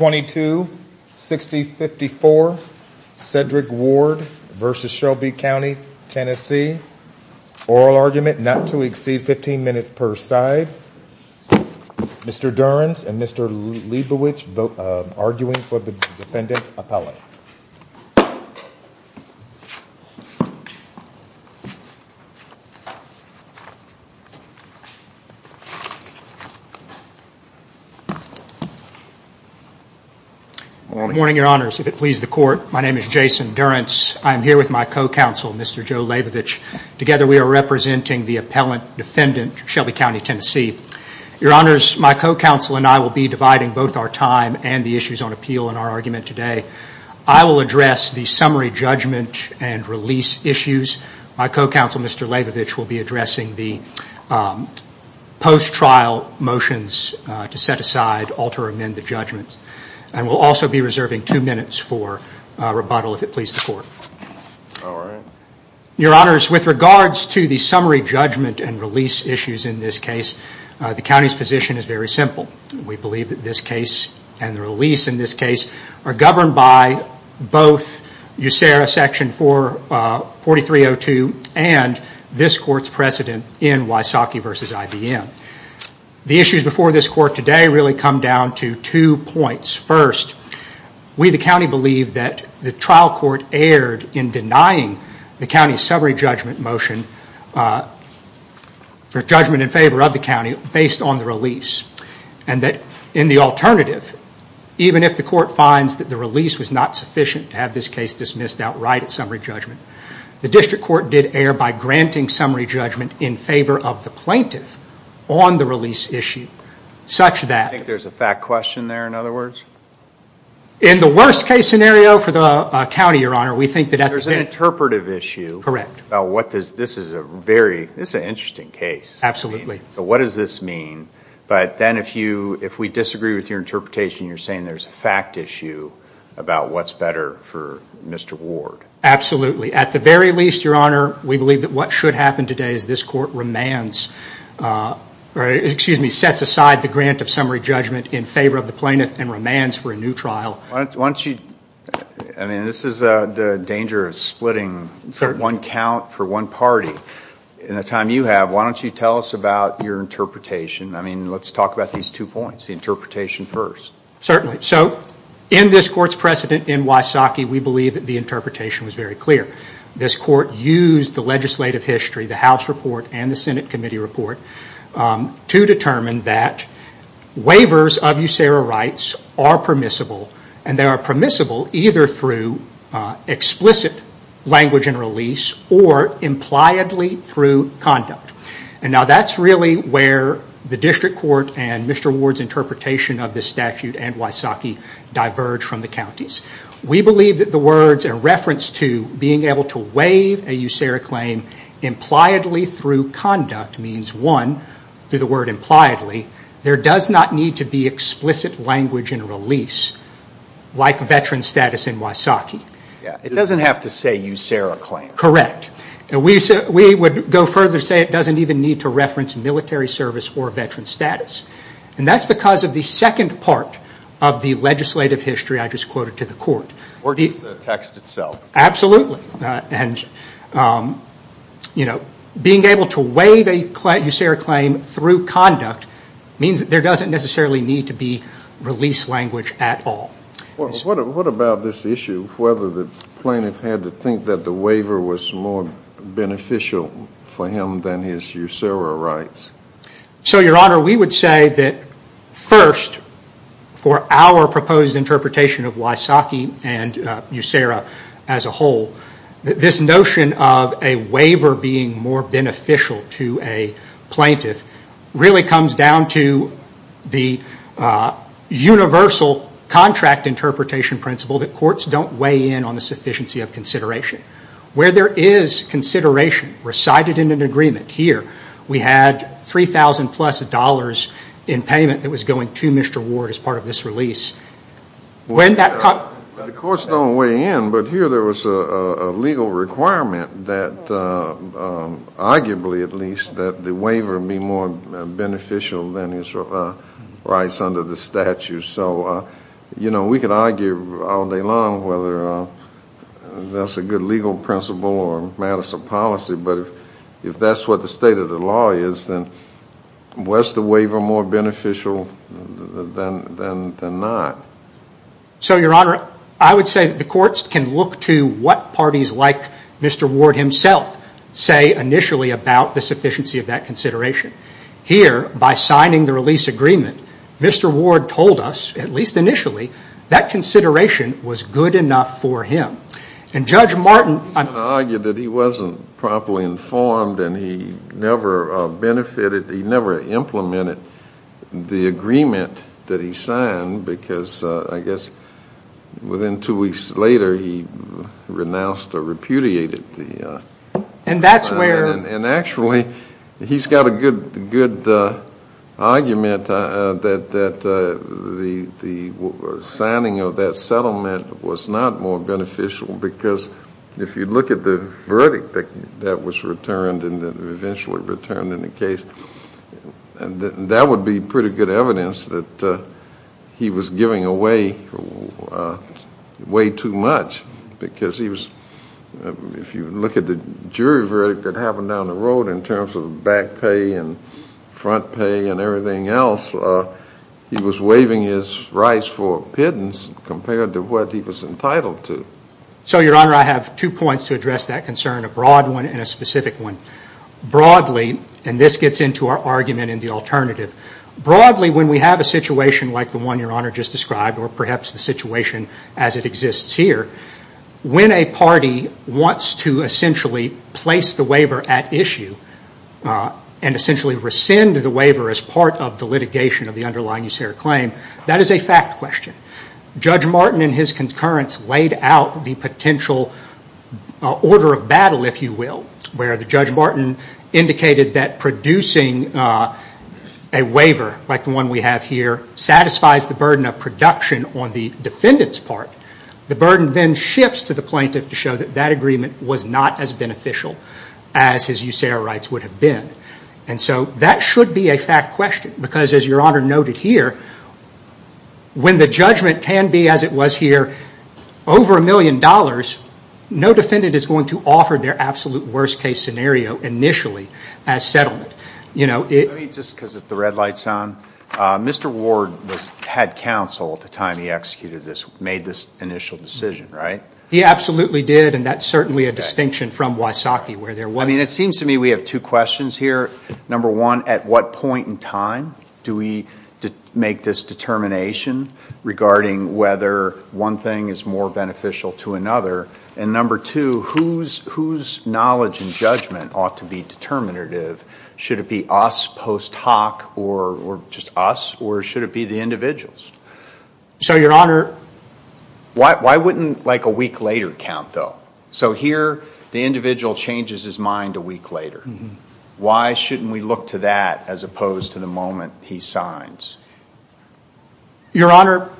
oral argument not to exceed 15 minutes per side. Mr. Durrance and Mr. Leibovitch vote arguing for the defendant appellate. My name is Jason Durrance. I am here with my co-counsel Mr. Joe Leibovitch. Together we are representing the appellate defendant, Shelby County TN. My co-counsel and I will be dividing both our time and the issues on appeal in our argument today. I will address the summary judgment and release issues. My co-counsel Mr. Leibovitch will be addressing the post-trial motions to set aside, alter or amend the judgment. We will also be reserving two minutes for rebuttal if it pleases the court. Your honors, with regards to the summary judgment and release issues in this case, the county's position is very simple. We believe that this case and the release in this case are governed by both USERA section 44302 and this court's precedent in Wysocki v. IBM. The issues before this court today really come down to two points. First, we the county believe that the trial court erred in denying the county's summary judgment motion for judgment in favor of the county based on the release. In the alternative, even if the court finds that the release was not sufficient to have summary judgment in favor of the plaintiff on the release issue, such that... I think there's a fact question there in other words? In the worst case scenario for the county, your honor, we think that... There's an interpretive issue. Correct. This is a very, this is an interesting case. So what does this mean? But then if you, if we disagree with your interpretation, you're saying there's a fact issue about what's better for Mr. Ward. Absolutely. At the very least, your honor, we believe that what should happen today is this court remands, or excuse me, sets aside the grant of summary judgment in favor of the plaintiff and remands for a new trial. Why don't you, I mean, this is the danger of splitting one count for one party. In the time you have, why don't you tell us about your interpretation? I mean, let's talk about these two points, the interpretation first. Certainly. So in this court's precedent in Wysocki, we believe that the interpretation was very clear. This court used the legislative history, the House report and the Senate committee report to determine that waivers of USERA rights are permissible, and they are permissible either through explicit language and release or impliedly through conduct. And now that's really where the district court and Mr. Ward's interpretation of this statute and Wysocki diverge from the county's. We believe that the words in reference to being able to waive a USERA claim impliedly through conduct means one, through the word impliedly, there does not need to be explicit language and release, like veteran status in Wysocki. It doesn't have to say USERA claim. Correct. We would go further and say it doesn't even need to reference military service or veteran status. And that's because of the second part of the legislative history I just quoted to the court. Or the text itself. Absolutely. And being able to waive a USERA claim through conduct means that there doesn't necessarily need to be release language at all. What about this issue of whether the plaintiff had to think that the waiver was more beneficial for him than his USERA rights? So, Your Honor, we would say that first, for our proposed interpretation of Wysocki and USERA as a whole, this notion of a waiver being more beneficial to a plaintiff really comes down to the universal contract interpretation principle that courts don't weigh in on the sufficiency of consideration. Where there is consideration recited in an agreement, here, we had 3,000 plus dollars in payment that was going to Mr. Ward as part of this release. When that... The courts don't weigh in, but here there was a legal requirement that, arguably at least, that the waiver be more beneficial than his rights under the statute. So, you know, we could argue all day long whether that's a good legal principle or matters of policy, but if that's what the state of the law is, then was the waiver more beneficial than not? So Your Honor, I would say that the courts can look to what parties like Mr. Ward himself say initially about the sufficiency of that consideration. Here, by signing the release agreement, Mr. Ward told us, at least initially, that consideration was good enough for him. And Judge Martin... I'm going to argue that he wasn't properly informed and he never benefited, he never implemented the agreement that he signed because, I guess, within two weeks later he renounced or repudiated the... And that's where... And actually, he's got a good argument that the signing of that settlement was not more beneficial because if you look at the verdict that was returned and eventually returned in the case, that would be pretty good evidence that he was giving away way too much because he was... If you look at the jury verdict that happened down the road in terms of back pay and front pay and everything else, he was waiving his rights for pittance compared to what he was entitled to. So Your Honor, I have two points to address that concern, a broad one and a specific one. Broadly, and this gets into our argument in the alternative, broadly when we have a situation like the one Your Honor just described or perhaps the situation as it exists here, when a party wants to essentially place the waiver at issue and essentially rescind the waiver as part of the litigation of the underlying usurer claim, that is a fact question. Judge Martin and his concurrence laid out the potential order of battle, if you will, where the Judge Martin indicated that producing a waiver like the one we have here satisfies the burden of production on the defendant's part, the burden then shifts to the plaintiff to show that that agreement was not as beneficial as his usurer rights would have been. So that should be a fact question because as Your Honor noted here, when the judgment can be as it was here, over a million dollars, no defendant is going to offer their absolute worst case scenario initially as settlement. Let me just, because the red light is on, Mr. Ward had counsel at the time he executed this, made this initial decision, right? He absolutely did and that is certainly a distinction from Wysocki where there was. It seems to me we have two questions here. Number one, at what point in time do we make this determination regarding whether one thing is more beneficial to another? And number two, whose knowledge and judgment ought to be determinative? Should it be us post hoc or just us or should it be the individuals? So Your Honor... Why wouldn't like a week later count though? So here the individual changes his mind a week later. Why shouldn't we look to that as opposed to the moment he signs? Your Honor,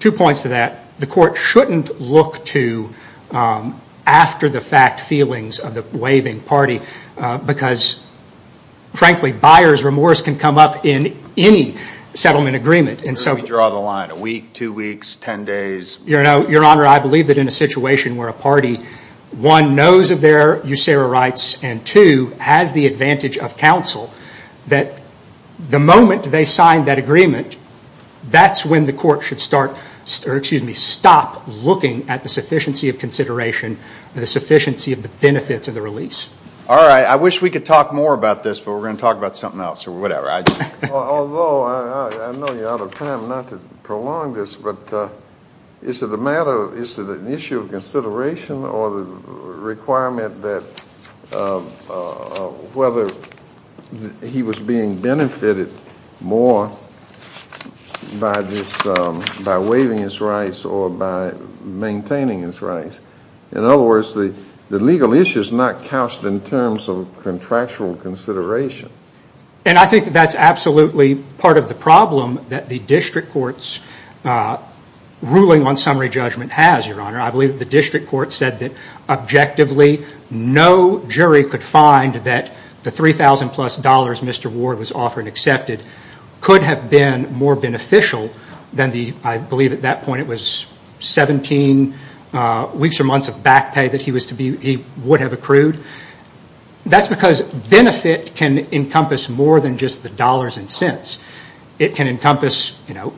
two points to that. The court shouldn't look to after the fact feelings of the waiving party because frankly buyer's remorse can come up in any settlement agreement and so... Where do we draw the line? A week, two weeks, ten days? Your Honor, I believe that in a situation where a party, one, knows of their usura rights and two, has the advantage of counsel, that the moment they sign that agreement, that's when the court should start, or excuse me, stop looking at the sufficiency of consideration and the sufficiency of the benefits of the release. All right. I wish we could talk more about this, but we're going to talk about something else or whatever. Although I know you're out of time not to prolong this, but is it a matter of, is it a requirement that whether he was being benefited more by waiving his rights or by maintaining his rights? In other words, the legal issue is not couched in terms of contractual consideration. And I think that that's absolutely part of the problem that the district court's ruling on summary judgment has, Your Honor. I believe the district court said that objectively no jury could find that the $3,000 plus Mr. Ward was offered and accepted could have been more beneficial than the, I believe at that point it was 17 weeks or months of back pay that he would have accrued. That's because benefit can encompass more than just the dollars and cents. It can encompass, you know,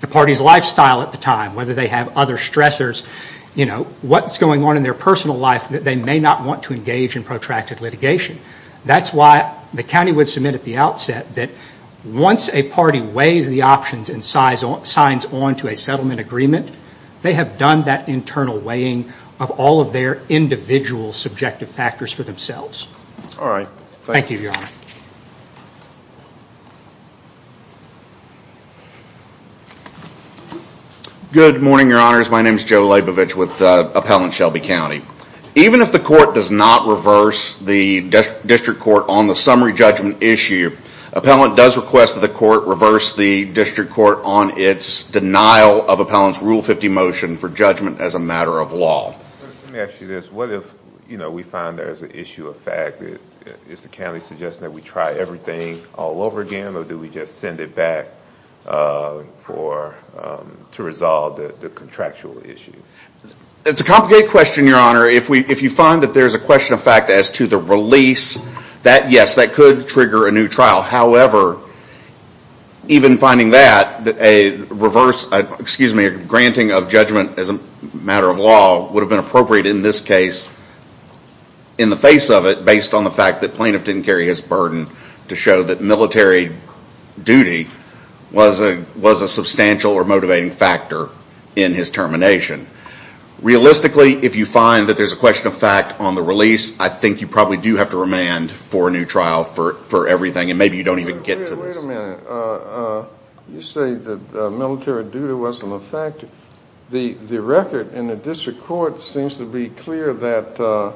the party's lifestyle at the time, whether they have other stressors, you know, what's going on in their personal life that they may not want to engage in protracted litigation. That's why the county would submit at the outset that once a party weighs the options and signs on to a settlement agreement, they have done that internal weighing of all of their individual subjective factors for themselves. All right. Thank you. Thank you, Your Honor. Good morning, Your Honors. My name is Joe Labovitch with Appellant Shelby County. Even if the court does not reverse the district court on the summary judgment issue, Appellant does request that the court reverse the district court on its denial of Appellant's Rule 50 motion for judgment as a matter of law. Let me ask you this. What if, you know, we find there's an issue of fact, is the county suggesting that we try everything all over again, or do we just send it back for, to resolve the contractual issue? It's a complicated question, Your Honor. If you find that there's a question of fact as to the release, that, yes, that could trigger a new trial. However, even finding that, a reverse, excuse me, a granting of judgment as a matter of law would have been appropriate in this case, in the face of it, based on the fact that the plaintiff didn't carry his burden to show that military duty was a substantial or motivating factor in his termination. Realistically, if you find that there's a question of fact on the release, I think you probably do have to remand for a new trial for everything, and maybe you don't even get to this. Wait a minute. You say that military duty wasn't a factor. The record in the district court seems to be clear that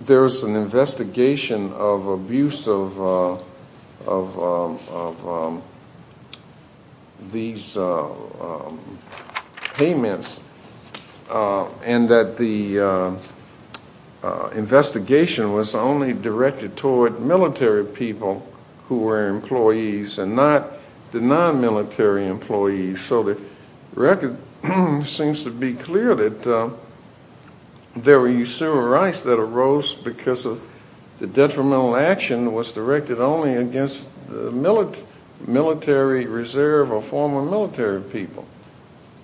there's an investigation of abuse of these payments, and that the investigation was only directed toward military people who were employees, and not the non-military employees. So the record seems to be clear that there were usury rights that arose because the detrimental action was directed only against the military reserve or former military people.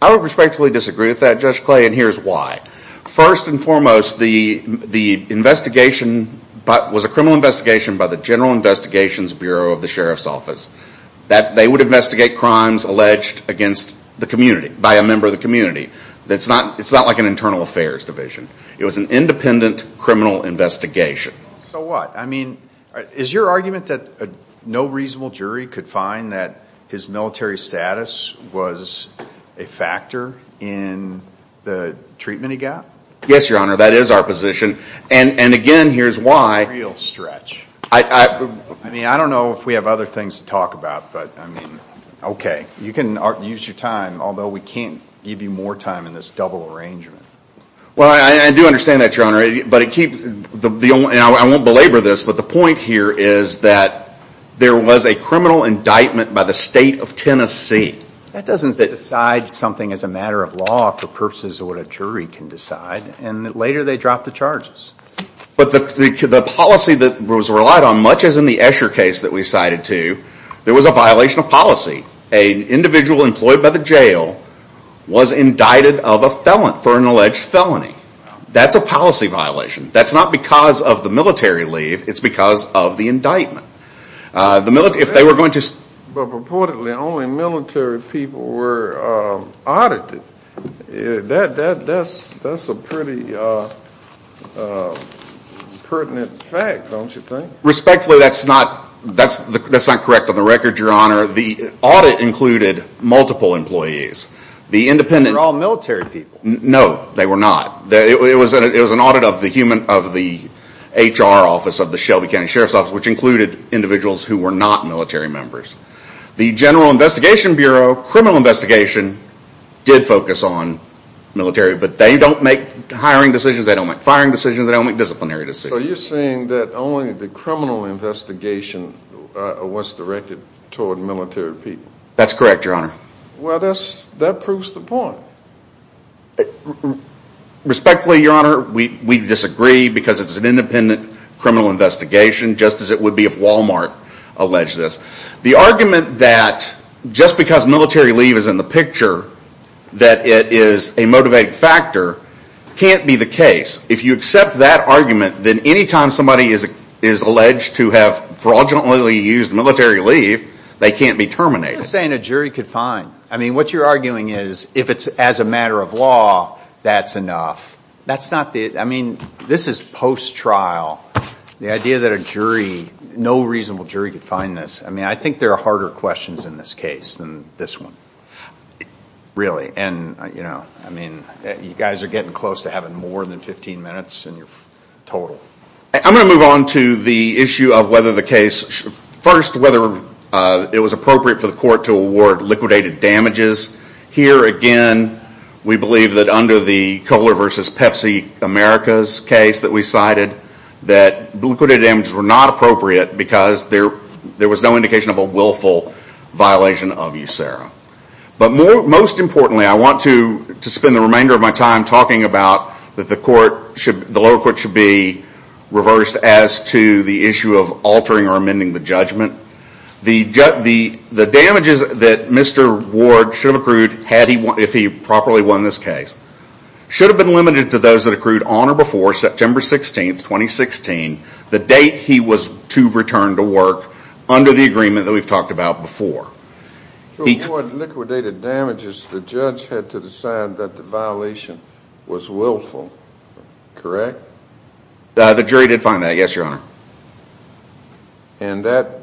I would respectfully disagree with that, Judge Clay, and here's why. First and foremost, the investigation was a criminal investigation by the General Investigations Bureau of the Sheriff's Office. They would investigate crimes alleged against the community, by a member of the community. It's not like an internal affairs division. It was an independent criminal investigation. So what? Is your argument that no reasonable jury could find that his military status was a factor in the treatment he got? Yes, Your Honor. That is our position. Again, here's why. Real stretch. I mean, I don't know if we have other things to talk about, but I mean, okay. You can use your time, although we can't give you more time in this double arrangement. Well, I do understand that, Your Honor, but it keeps, and I won't belabor this, but the point here is that there was a criminal indictment by the state of Tennessee. That doesn't decide something as a matter of law for purposes of what a jury can decide, and later they dropped the charges. But the policy that was relied on, much as in the Escher case that we cited too, there was a violation of policy. An individual employed by the jail was indicted of a felon for an alleged felony. That's a policy violation. That's not because of the military leave. It's because of the indictment. If they were going to... But purportedly only military people were audited. That's a pretty pertinent fact, don't you think? Respectfully, that's not correct on the record, Your Honor. The audit included multiple employees. The independent... They were all military people. No, they were not. It was an audit of the HR office, of the Shelby County Sheriff's Office, which included individuals who were not military members. The General Investigation Bureau, criminal investigation, did focus on military, but they don't make hiring decisions. They don't make firing decisions. They don't make disciplinary decisions. So you're saying that only the criminal investigation was directed toward military people? That's correct, Your Honor. Well, that proves the point. Respectfully, Your Honor, we disagree because it's an independent criminal investigation, just as it would be if Walmart alleged this. The argument that just because military leave is in the picture, that it is a motivated factor, can't be the case. If you accept that argument, then anytime somebody is alleged to have fraudulently used military leave, they can't be terminated. You're just saying a jury could fine. What you're arguing is, if it's as a matter of law, that's enough. This is post-trial. The idea that a jury, no reasonable jury, could fine this, I think there are harder questions in this case than this one, really. You guys are getting close to having more than 15 minutes in your total. I'm going to move on to the issue of whether the case, first, whether it was appropriate for the court to award liquidated damages. Here again, we believe that under the Kohler v. Pepsi Americas case that we cited, that liquidated damages were not appropriate because there was no indication of a willful violation of USERRA. Most importantly, I want to spend the remainder of my time talking about that the lower court should be reversed as to the issue of altering or amending the judgment. The damages that Mr. Ward should have accrued, if he properly won this case, should have been limited to those that accrued on or before September 16th, 2016, the date he was to return to work under the agreement that we've talked about before. Before liquidated damages, the judge had to decide that the violation was willful, correct? The jury did fine that, yes, your honor. And that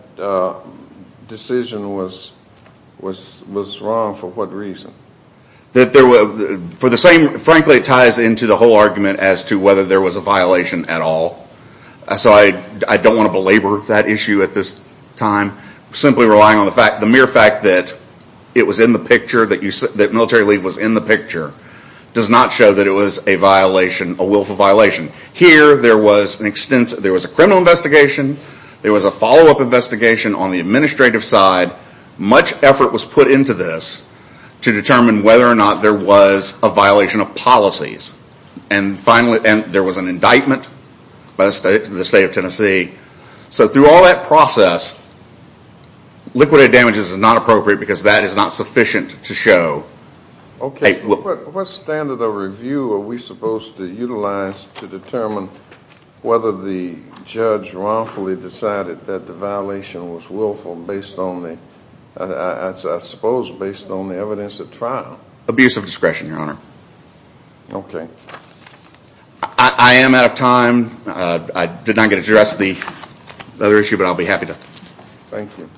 decision was wrong for what reason? Frankly, it ties into the whole argument as to whether there was a violation at all. So I don't want to belabor that issue at this time. Simply relying on the mere fact that it was in the picture, that military leave was in the picture, does not show that it was a violation, a willful violation. Here, there was a criminal investigation, there was a follow-up investigation on the administrative side. Much effort was put into this to determine whether or not there was a violation of policies. And finally, there was an indictment by the state of Tennessee. So through all that process, liquidated damages is not appropriate because that is not sufficient to show. Okay. What standard of review are we supposed to utilize to determine whether the judge wrongfully decided that the violation was willful based on the, I suppose, based on the evidence at Abuse of discretion, your honor. Okay. I am out of time. I did not get to address the other issue, but I'll be happy to. Thank you.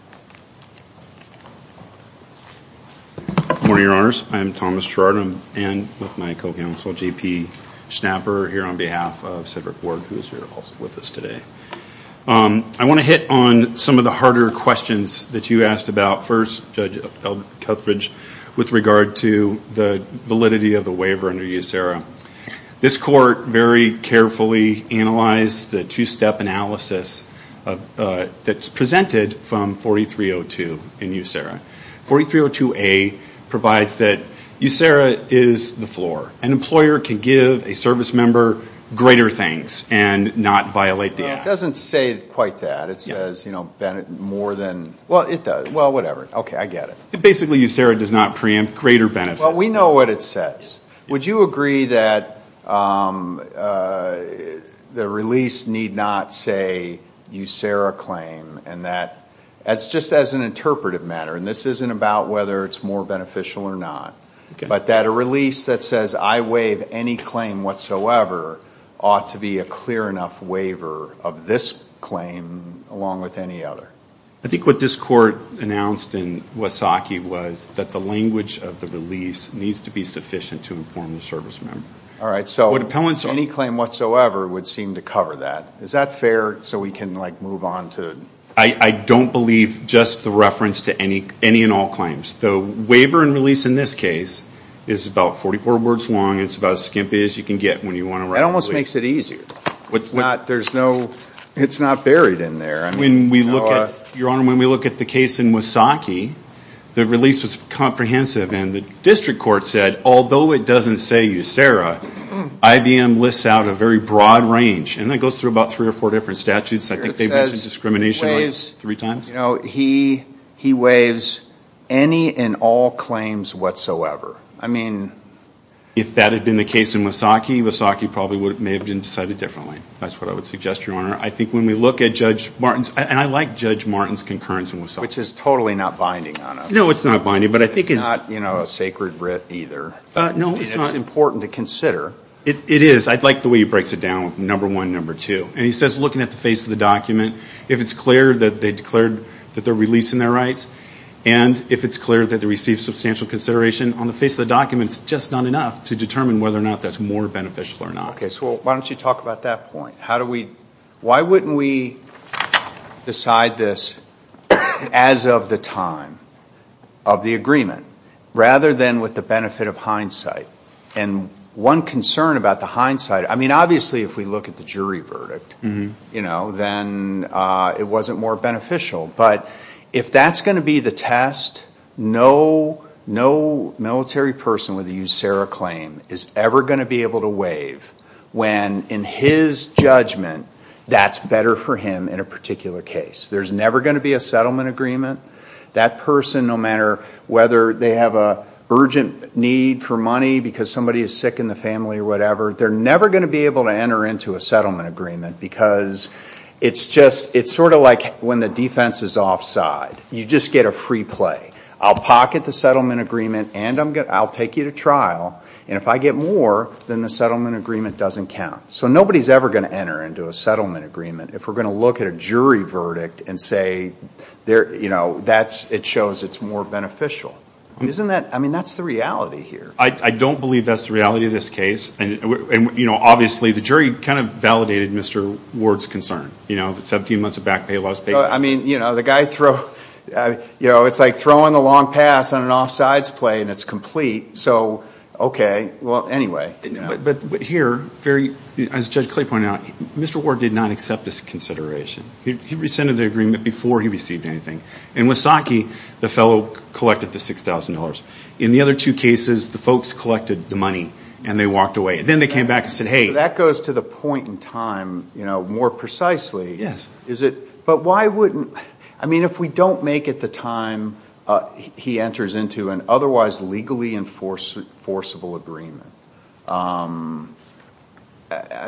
Good morning, your honors. I am Thomas Trardum and with my co-counsel, JP Schnapper, here on behalf of Cedric Ward, who is here also with us today. I want to hit on some of the harder questions that you asked about first, Judge Eldridge, with regard to the validity of the waiver under USERRA. This court very carefully analyzed the two-step analysis that's presented from 4302 in USERRA. 4302A provides that USERRA is the floor. An employer can give a service member greater things and not violate the act. It doesn't say quite that. It says, you know, more than, well, it does. Well, whatever. Okay. I get it. Basically, USERRA does not preempt greater benefits. Well, we know what it says. Would you agree that the release need not say USERRA claim and that, just as an interpretive matter, and this isn't about whether it's more beneficial or not, but that a release that says, I waive any claim whatsoever, ought to be a clear enough waiver of this claim along with any other? I think what this court announced in Wasaki was that the language of the release needs to be sufficient to inform the service member. All right. So, any claim whatsoever would seem to cover that. Is that fair so we can, like, move on to? I don't believe just the reference to any and all claims. The waiver and release in this case is about 44 words long. It's about as skimpy as you can get when you want to write a release. It almost makes it easier. There's no, it's not buried in there. When we look at, Your Honor, when we look at the case in Wasaki, the release was comprehensive and the district court said, although it doesn't say USERRA, IBM lists out a very broad range and it goes through about three or four different statutes. I think they mentioned discrimination three times. You know, he waives any and all claims whatsoever. I mean. If that had been the case in Wasaki, Wasaki probably would have, may have been decided differently. That's what I would suggest, Your Honor. I think when we look at Judge Martin's, and I like Judge Martin's concurrence in Wasaki. Which is totally not binding on us. No, it's not binding. But I think it's. It's not, you know, a sacred writ either. No, it's not. I mean, it's not important to consider. It is. I like the way he breaks it down. Number one, number two. And he says, looking at the face of the document, if it's clear that they declared that they're releasing their rights, and if it's clear that they received substantial consideration on the face of the document, it's just not enough to determine whether or not that's more beneficial or not. Okay. So why don't you talk about that point? How do we, why wouldn't we decide this as of the time of the agreement, rather than with the benefit of hindsight? And one concern about the hindsight, I mean, obviously, if we look at the jury verdict, you know, then it wasn't more beneficial. But if that's going to be the test, no, no military person with a USARA claim is ever going to be able to waive when, in his judgment, that's better for him in a particular case. There's never going to be a settlement agreement. That person, no matter whether they have an urgent need for money because somebody is sick in the family or whatever, they're never going to be able to enter into a settlement agreement because it's just, it's sort of like when the defense is offside. You just get a free play. I'll pocket the settlement agreement and I'll take you to trial and if I get more, then the settlement agreement doesn't count. So nobody's ever going to enter into a settlement agreement. If we're going to look at a jury verdict and say, you know, that's, it shows it's more beneficial. Isn't that, I mean, that's the reality here. I don't believe that's the reality of this case and, you know, obviously, the jury kind of validated Mr. Ward's concern, you know, 17 months of back pay, lost pay. I mean, you know, the guy throw, you know, it's like throwing the long pass on an offsides play and it's complete. So, okay, well, anyway. But here, as Judge Clay pointed out, Mr. Ward did not accept this consideration. He rescinded the agreement before he received anything. In Wasaki, the fellow collected the $6,000. In the other two cases, the folks collected the money and they walked away. Then they came back and said, hey. That goes to the point in time, you know, more precisely. Yes. Is it, but why wouldn't, I mean, if we don't make it the time he enters into an otherwise legally enforceable agreement, I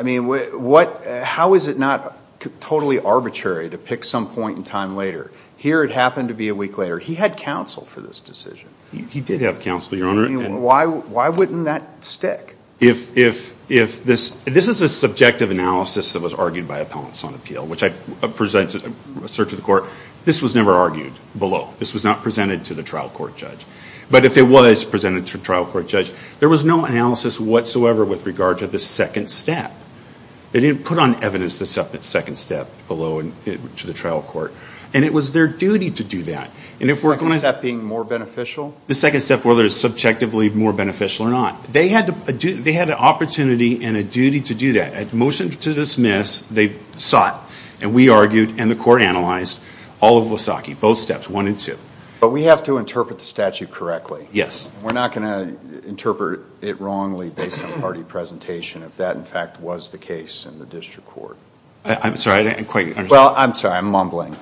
mean, what, how is it not totally arbitrary to pick some point in time later? Here it happened to be a week later. He had counsel for this decision. He did have counsel, Your Honor. Why wouldn't that stick? If this, this is a subjective analysis that was argued by appellants on appeal, which I presented a search of the court. This was never argued below. This was not presented to the trial court judge. But if it was presented to a trial court judge, there was no analysis whatsoever with regard to the second step. They didn't put on evidence the second step below and to the trial court. And it was their duty to do that. And if we're going to. The second step being more beneficial? The second step, whether it's subjectively more beneficial or not. They had to, they had an opportunity and a duty to do that. At motion to dismiss, they sought. And we argued and the court analyzed all of Wasaki, both steps, one and two. But we have to interpret the statute correctly. Yes. We're not going to interpret it wrongly based on party presentation if that, in fact, was the case in the district court. I'm sorry, I didn't quite understand. Well, I'm sorry, I'm mumbling.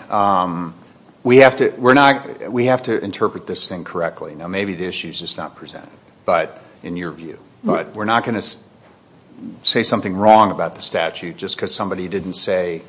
We have to, we're not, we have to interpret this thing correctly. Now, maybe the issue is just not presented. But in your view. But we're not going to say something wrong about the statute just because somebody didn't say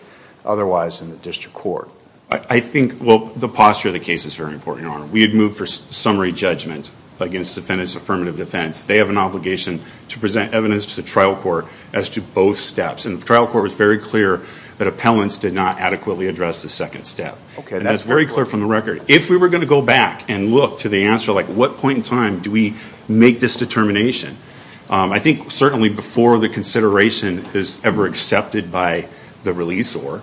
otherwise in the district court. I think, well, the posture of the case is very important, Your Honor. We had moved for summary judgment against defendants' affirmative defense. They have an obligation to present evidence to the trial court as to both steps. And the trial court was very clear that appellants did not adequately address the second step. Okay. And that's very clear from the record. If we were going to go back and look to the answer, like, what point in time do we make this determination? I think certainly before the consideration is ever accepted by the release or,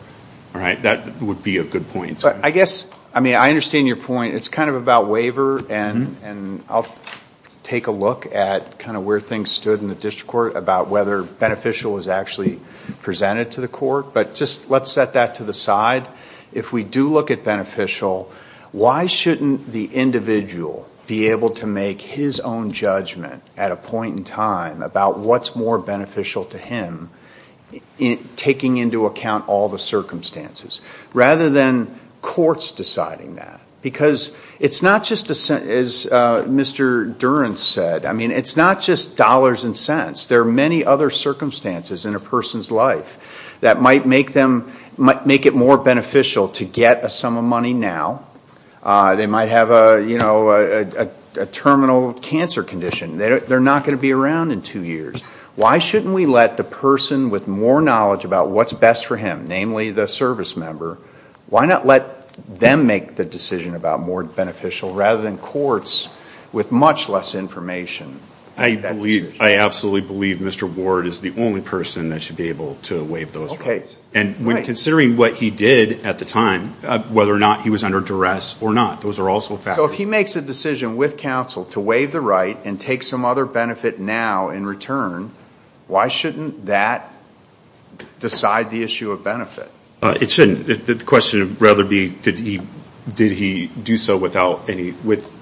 all right, that would be a good point. I guess, I mean, I understand your point. It's kind of about waiver and I'll take a look at kind of where things stood in the district court about whether beneficial was actually presented to the court. But just let's set that to the side. If we do look at beneficial, why shouldn't the individual be able to make his own judgment at a point in time about what's more beneficial to him taking into account all the circumstances rather than courts deciding that? Because it's not just, as Mr. Durant said, I mean, it's not just dollars and cents. There are many other circumstances in a person's life that might make them, might make it more beneficial to get a sum of money now. They might have a, you know, a terminal cancer condition. They're not going to be around in two years. Why shouldn't we let the person with more knowledge about what's best for him, namely the service member, why not let them make the decision about more beneficial rather than courts with much less information? I believe, I absolutely believe Mr. Ward is the only person that should be able to waive those rights. Okay. Right. And when considering what he did at the time, whether or not he was under duress or not, those are also factors. So if he makes a decision with counsel to waive the right and take some other benefit now in return, why shouldn't that decide the issue of benefit? It shouldn't. The question would rather be did he do so without any, with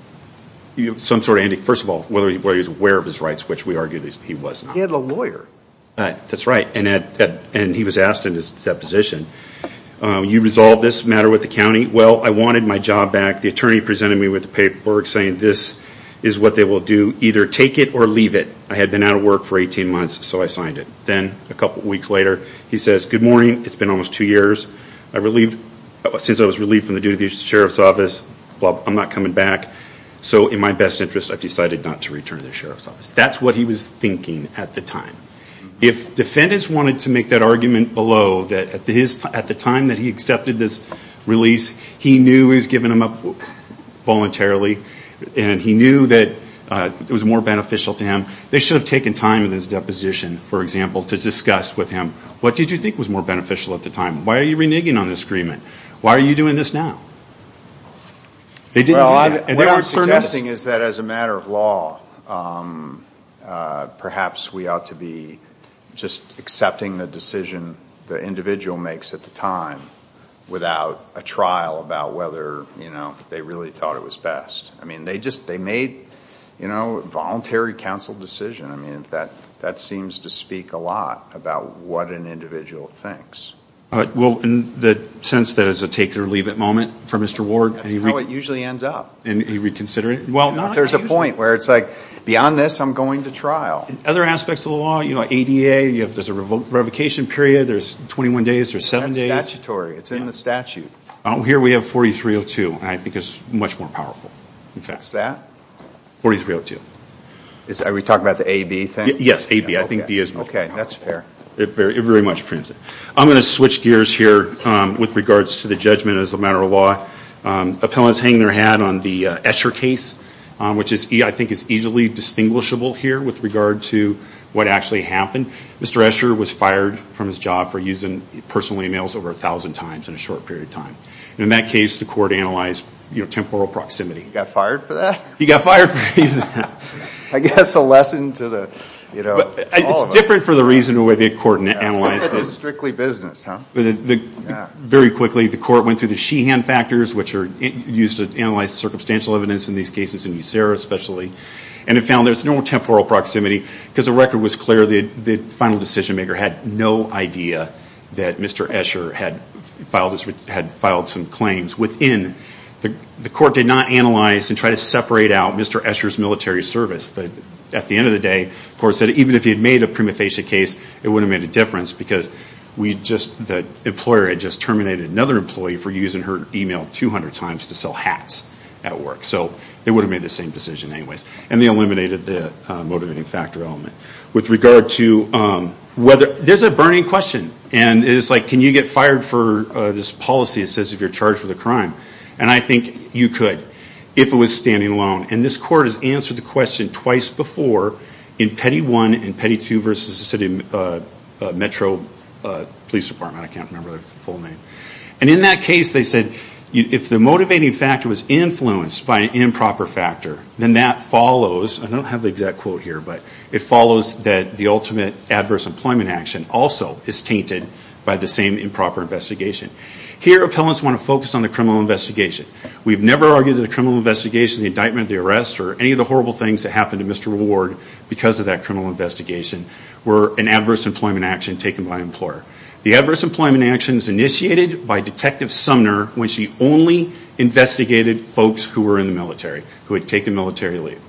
some sort of, first of all, whether he was aware of his rights, which we argue he was not. He had a lawyer. Right. That's right. And he was asked in his deposition, you resolve this matter with the county? Well, I wanted my job back. The attorney presented me with the paperwork saying this is what they will do, either take it or leave it. I had been out of work for 18 months, so I signed it. Then a couple weeks later, he says, good morning, it's been almost two years, since I was relieved from the duty of the sheriff's office, I'm not coming back. So in my best interest, I've decided not to return to the sheriff's office. That's what he was thinking at the time. If defendants wanted to make that argument below, that at the time that he accepted this release, he knew he was giving them up voluntarily, and he knew that it was more beneficial to him, they should have taken time in his deposition, for example, to discuss with him, what did you think was more beneficial at the time? Why are you reneging on this agreement? Why are you doing this now? Well, what I'm suggesting is that as a matter of law, perhaps we ought to be just accepting the decision the individual makes at the time, without a trial about whether they really thought it was best. I mean, they made a voluntary counsel decision, that seems to speak a lot about what an individual thinks. Well, in the sense that it's a take it or leave it moment for Mr. Ward, and he reconsidered it. There's a point where it's like, beyond this, I'm going to trial. Other aspects of the law, you know, ADA, there's a revocation period, there's 21 days, there's seven days. That's statutory, it's in the statute. Here we have 4302, and I think it's much more powerful. What's that? 4302. Are we talking about the AB thing? Yes, AB, I think B is much more powerful. Okay, that's fair. It very much prunes it. I'm going to switch gears here with regards to the judgment as a matter of law. Appellants hang their hat on the Escher case, which I think is easily distinguishable here with regard to what actually happened. Mr. Escher was fired from his job for using personal emails over 1,000 times in a short period of time. In that case, the court analyzed, you know, temporal proximity. Got fired for that? He got fired. I guess a lesson to the, you know, all of us. It's different for the reason the way the court analyzed it. Strictly business, huh? Very quickly, the court went through the Sheehan factors, which are used to analyze circumstantial evidence in these cases, in USERA especially, and it found there's no temporal proximity because the record was clear that the final decision maker had no idea that Mr. Escher had filed some claims within. The court did not analyze and try to separate out Mr. Escher's military service. At the end of the day, the court said even if he had made a prima facie case, it wouldn't have made a difference because the employer had just terminated another employee for using her email 200 times to sell hats at work. So they wouldn't have made the same decision anyways. And they eliminated the motivating factor element. With regard to whether, there's a burning question, and it's like, can you get fired for this policy that says you're charged with a crime? And I think you could if it was standing alone. And this court has answered the question twice before in Petty 1 and Petty 2 versus the city metro police department. I can't remember the full name. And in that case, they said if the motivating factor was influenced by an improper factor, then that follows, I don't have the exact quote here, but it follows that the ultimate adverse employment action also is tainted by the same improper investigation. Here appellants want to focus on the criminal investigation. We've never argued that the criminal investigation, the indictment, the arrest, or any of the horrible things that happened to Mr. Ward because of that criminal investigation were an adverse employment action taken by an employer. The adverse employment action is initiated by Detective Sumner when she only investigated folks who were in the military, who had taken military leave.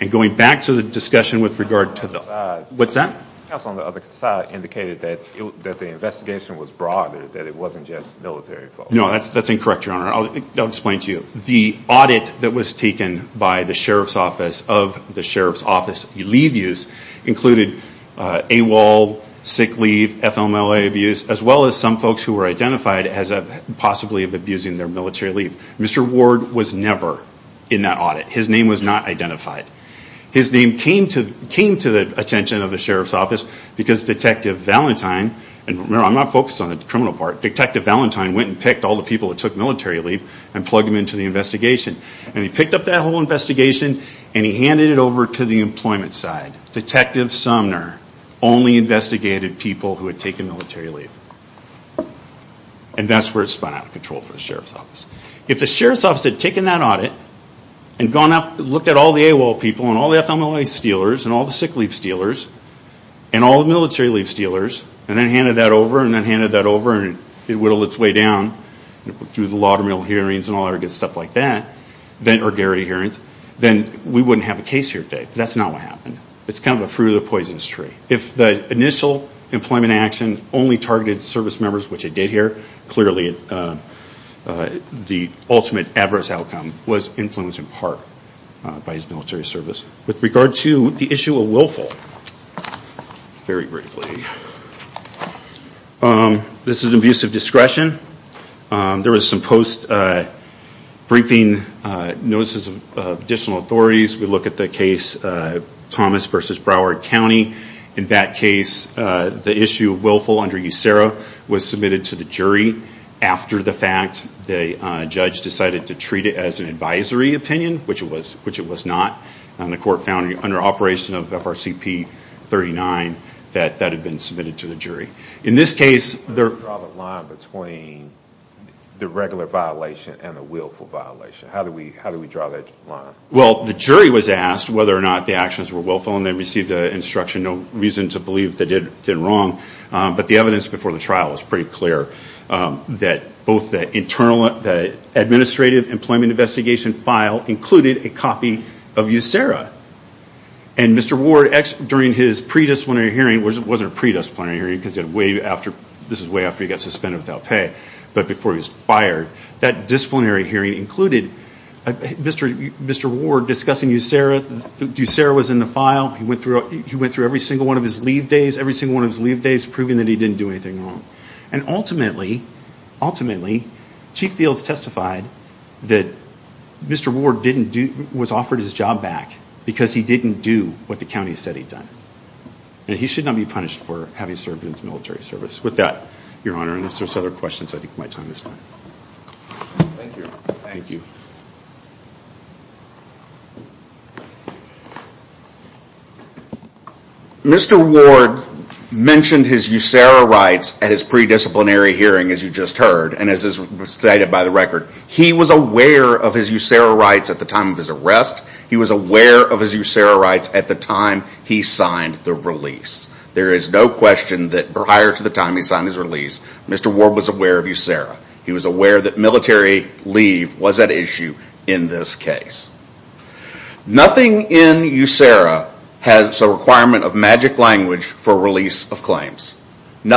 And going back to the discussion with regard to the, what's that? The counsel on the other side indicated that the investigation was broad, that it wasn't just military folks. No, that's incorrect, your honor. I'll explain it to you. The audit that was taken by the sheriff's office of the sheriff's office leave use included AWOL, sick leave, FMLA abuse, as well as some folks who were identified as possibly of abusing their military leave. Mr. Ward was never in that audit. His name was not identified. His name came to the attention of the sheriff's office because Detective Valentine, and remember I'm not focused on the criminal part, Detective Valentine went and picked all the people that took military leave and plugged them into the investigation. And he picked up that whole investigation and he handed it over to the employment side. Detective Sumner only investigated people who had taken military leave. And that's where it spun out of control for the sheriff's office. If the sheriff's office had taken that audit and gone out and looked at all the AWOL people and all the FMLA stealers and all the sick leave stealers and all the military leave over and whittled it's way down through the lotter mill hearings and all that good stuff like that, then we wouldn't have a case here today. That's not what happened. It's kind of the fruit of the poisonous tree. If the initial employment action only targeted service members, which it did here, clearly the ultimate adverse outcome was influenced in part by his military service. With regard to the issue of willful, very briefly, this is an abuse of discretion. There was some post-briefing notices of additional authorities. We look at the case Thomas v. Broward County. In that case, the issue of willful under USERRA was submitted to the jury after the fact. The judge decided to treat it as an advisory opinion, which it was not. The court found under operation of FRCP 39 that that had been submitted to the jury. In this case, there... How do you draw the line between the regular violation and the willful violation? How do we draw that line? Well, the jury was asked whether or not the actions were willful and they received an instruction, no reason to believe they did wrong. But the evidence before the trial was pretty clear that both the administrative employment investigation file included a copy of USERRA. And Mr. Ward, during his pre-disciplinary hearing, which wasn't a pre-disciplinary hearing because this was way after he got suspended without pay, but before he was fired, that disciplinary hearing included Mr. Ward discussing USERRA, USERRA was in the file, he went through every single one of his leave days, every single one of his leave days proving that he didn't do anything wrong. And ultimately, ultimately, Chief Fields testified that Mr. Ward was offered his job back because he didn't do what the county said he'd done. And he should not be punished for having served in the military service. With that, Your Honor, unless there's other questions, I think my time is up. Thank you. Thank you. Mr. Ward mentioned his USERRA rights at his pre-disciplinary hearing, as you just heard, and as is stated by the record, he was aware of his USERRA rights at the time of his arrest. He was aware of his USERRA rights at the time he signed the release. There is no question that prior to the time he signed his release, Mr. Ward was aware of USERRA. He was aware that military leave was at issue in this case. Nothing in USERRA has a requirement of magic language for release of claims. In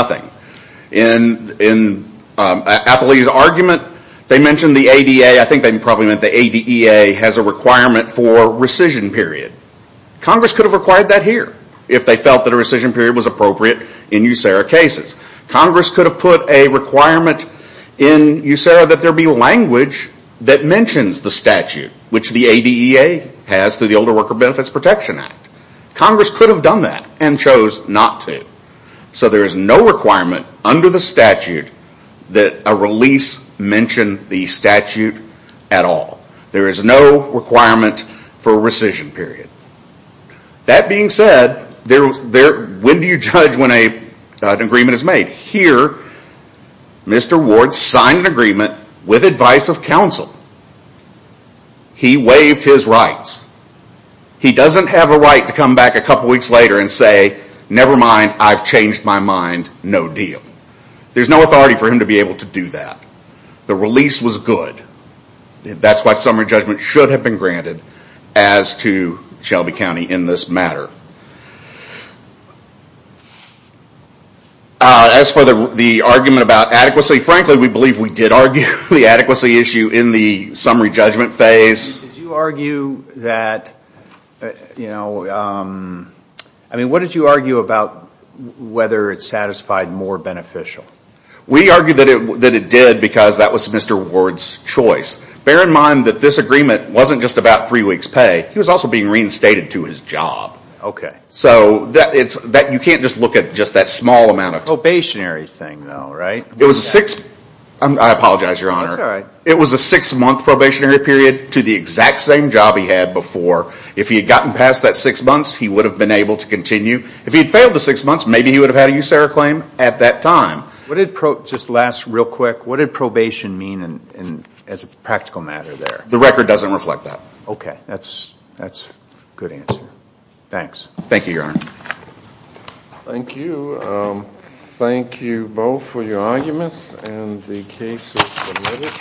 Appley's argument, they mentioned the ADA, I think they probably meant the ADEA has a requirement for rescission period. Congress could have required that here if they felt that a rescission period was appropriate in USERRA cases. Congress could have put a requirement in USERRA that there be language that mentions the statute, which the ADEA has through the Older Worker Benefits Protection Act. Congress could have done that and chose not to. There is no requirement under the statute that a release mention the statute at all. There is no requirement for rescission period. That being said, when do you judge when an agreement is made? Here, Mr. Ward signed an agreement with advice of counsel. He waived his rights. He doesn't have a right to come back a couple weeks later and say, never mind, I've changed my mind, no deal. There's no authority for him to be able to do that. The release was good. That's why summary judgment should have been granted as to Shelby County in this matter. As for the argument about adequacy, frankly, we believe we did argue the adequacy issue in the summary judgment phase. What did you argue about whether it satisfied more beneficial? We argued that it did because that was Mr. Ward's choice. Bear in mind that this agreement wasn't just about three weeks' pay, he was also being stated to his job. You can't just look at that small amount of time. Probationary thing, though, right? I apologize, Your Honor. It was a six-month probationary period to the exact same job he had before. If he had gotten past that six months, he would have been able to continue. If he had failed the six months, maybe he would have had a USARA claim at that time. Just last real quick, what did probation mean as a practical matter there? The record doesn't reflect that. Okay, that's a good answer. Thanks. Thank you, Your Honor. Thank you. Thank you both for your arguments and the case is submitted.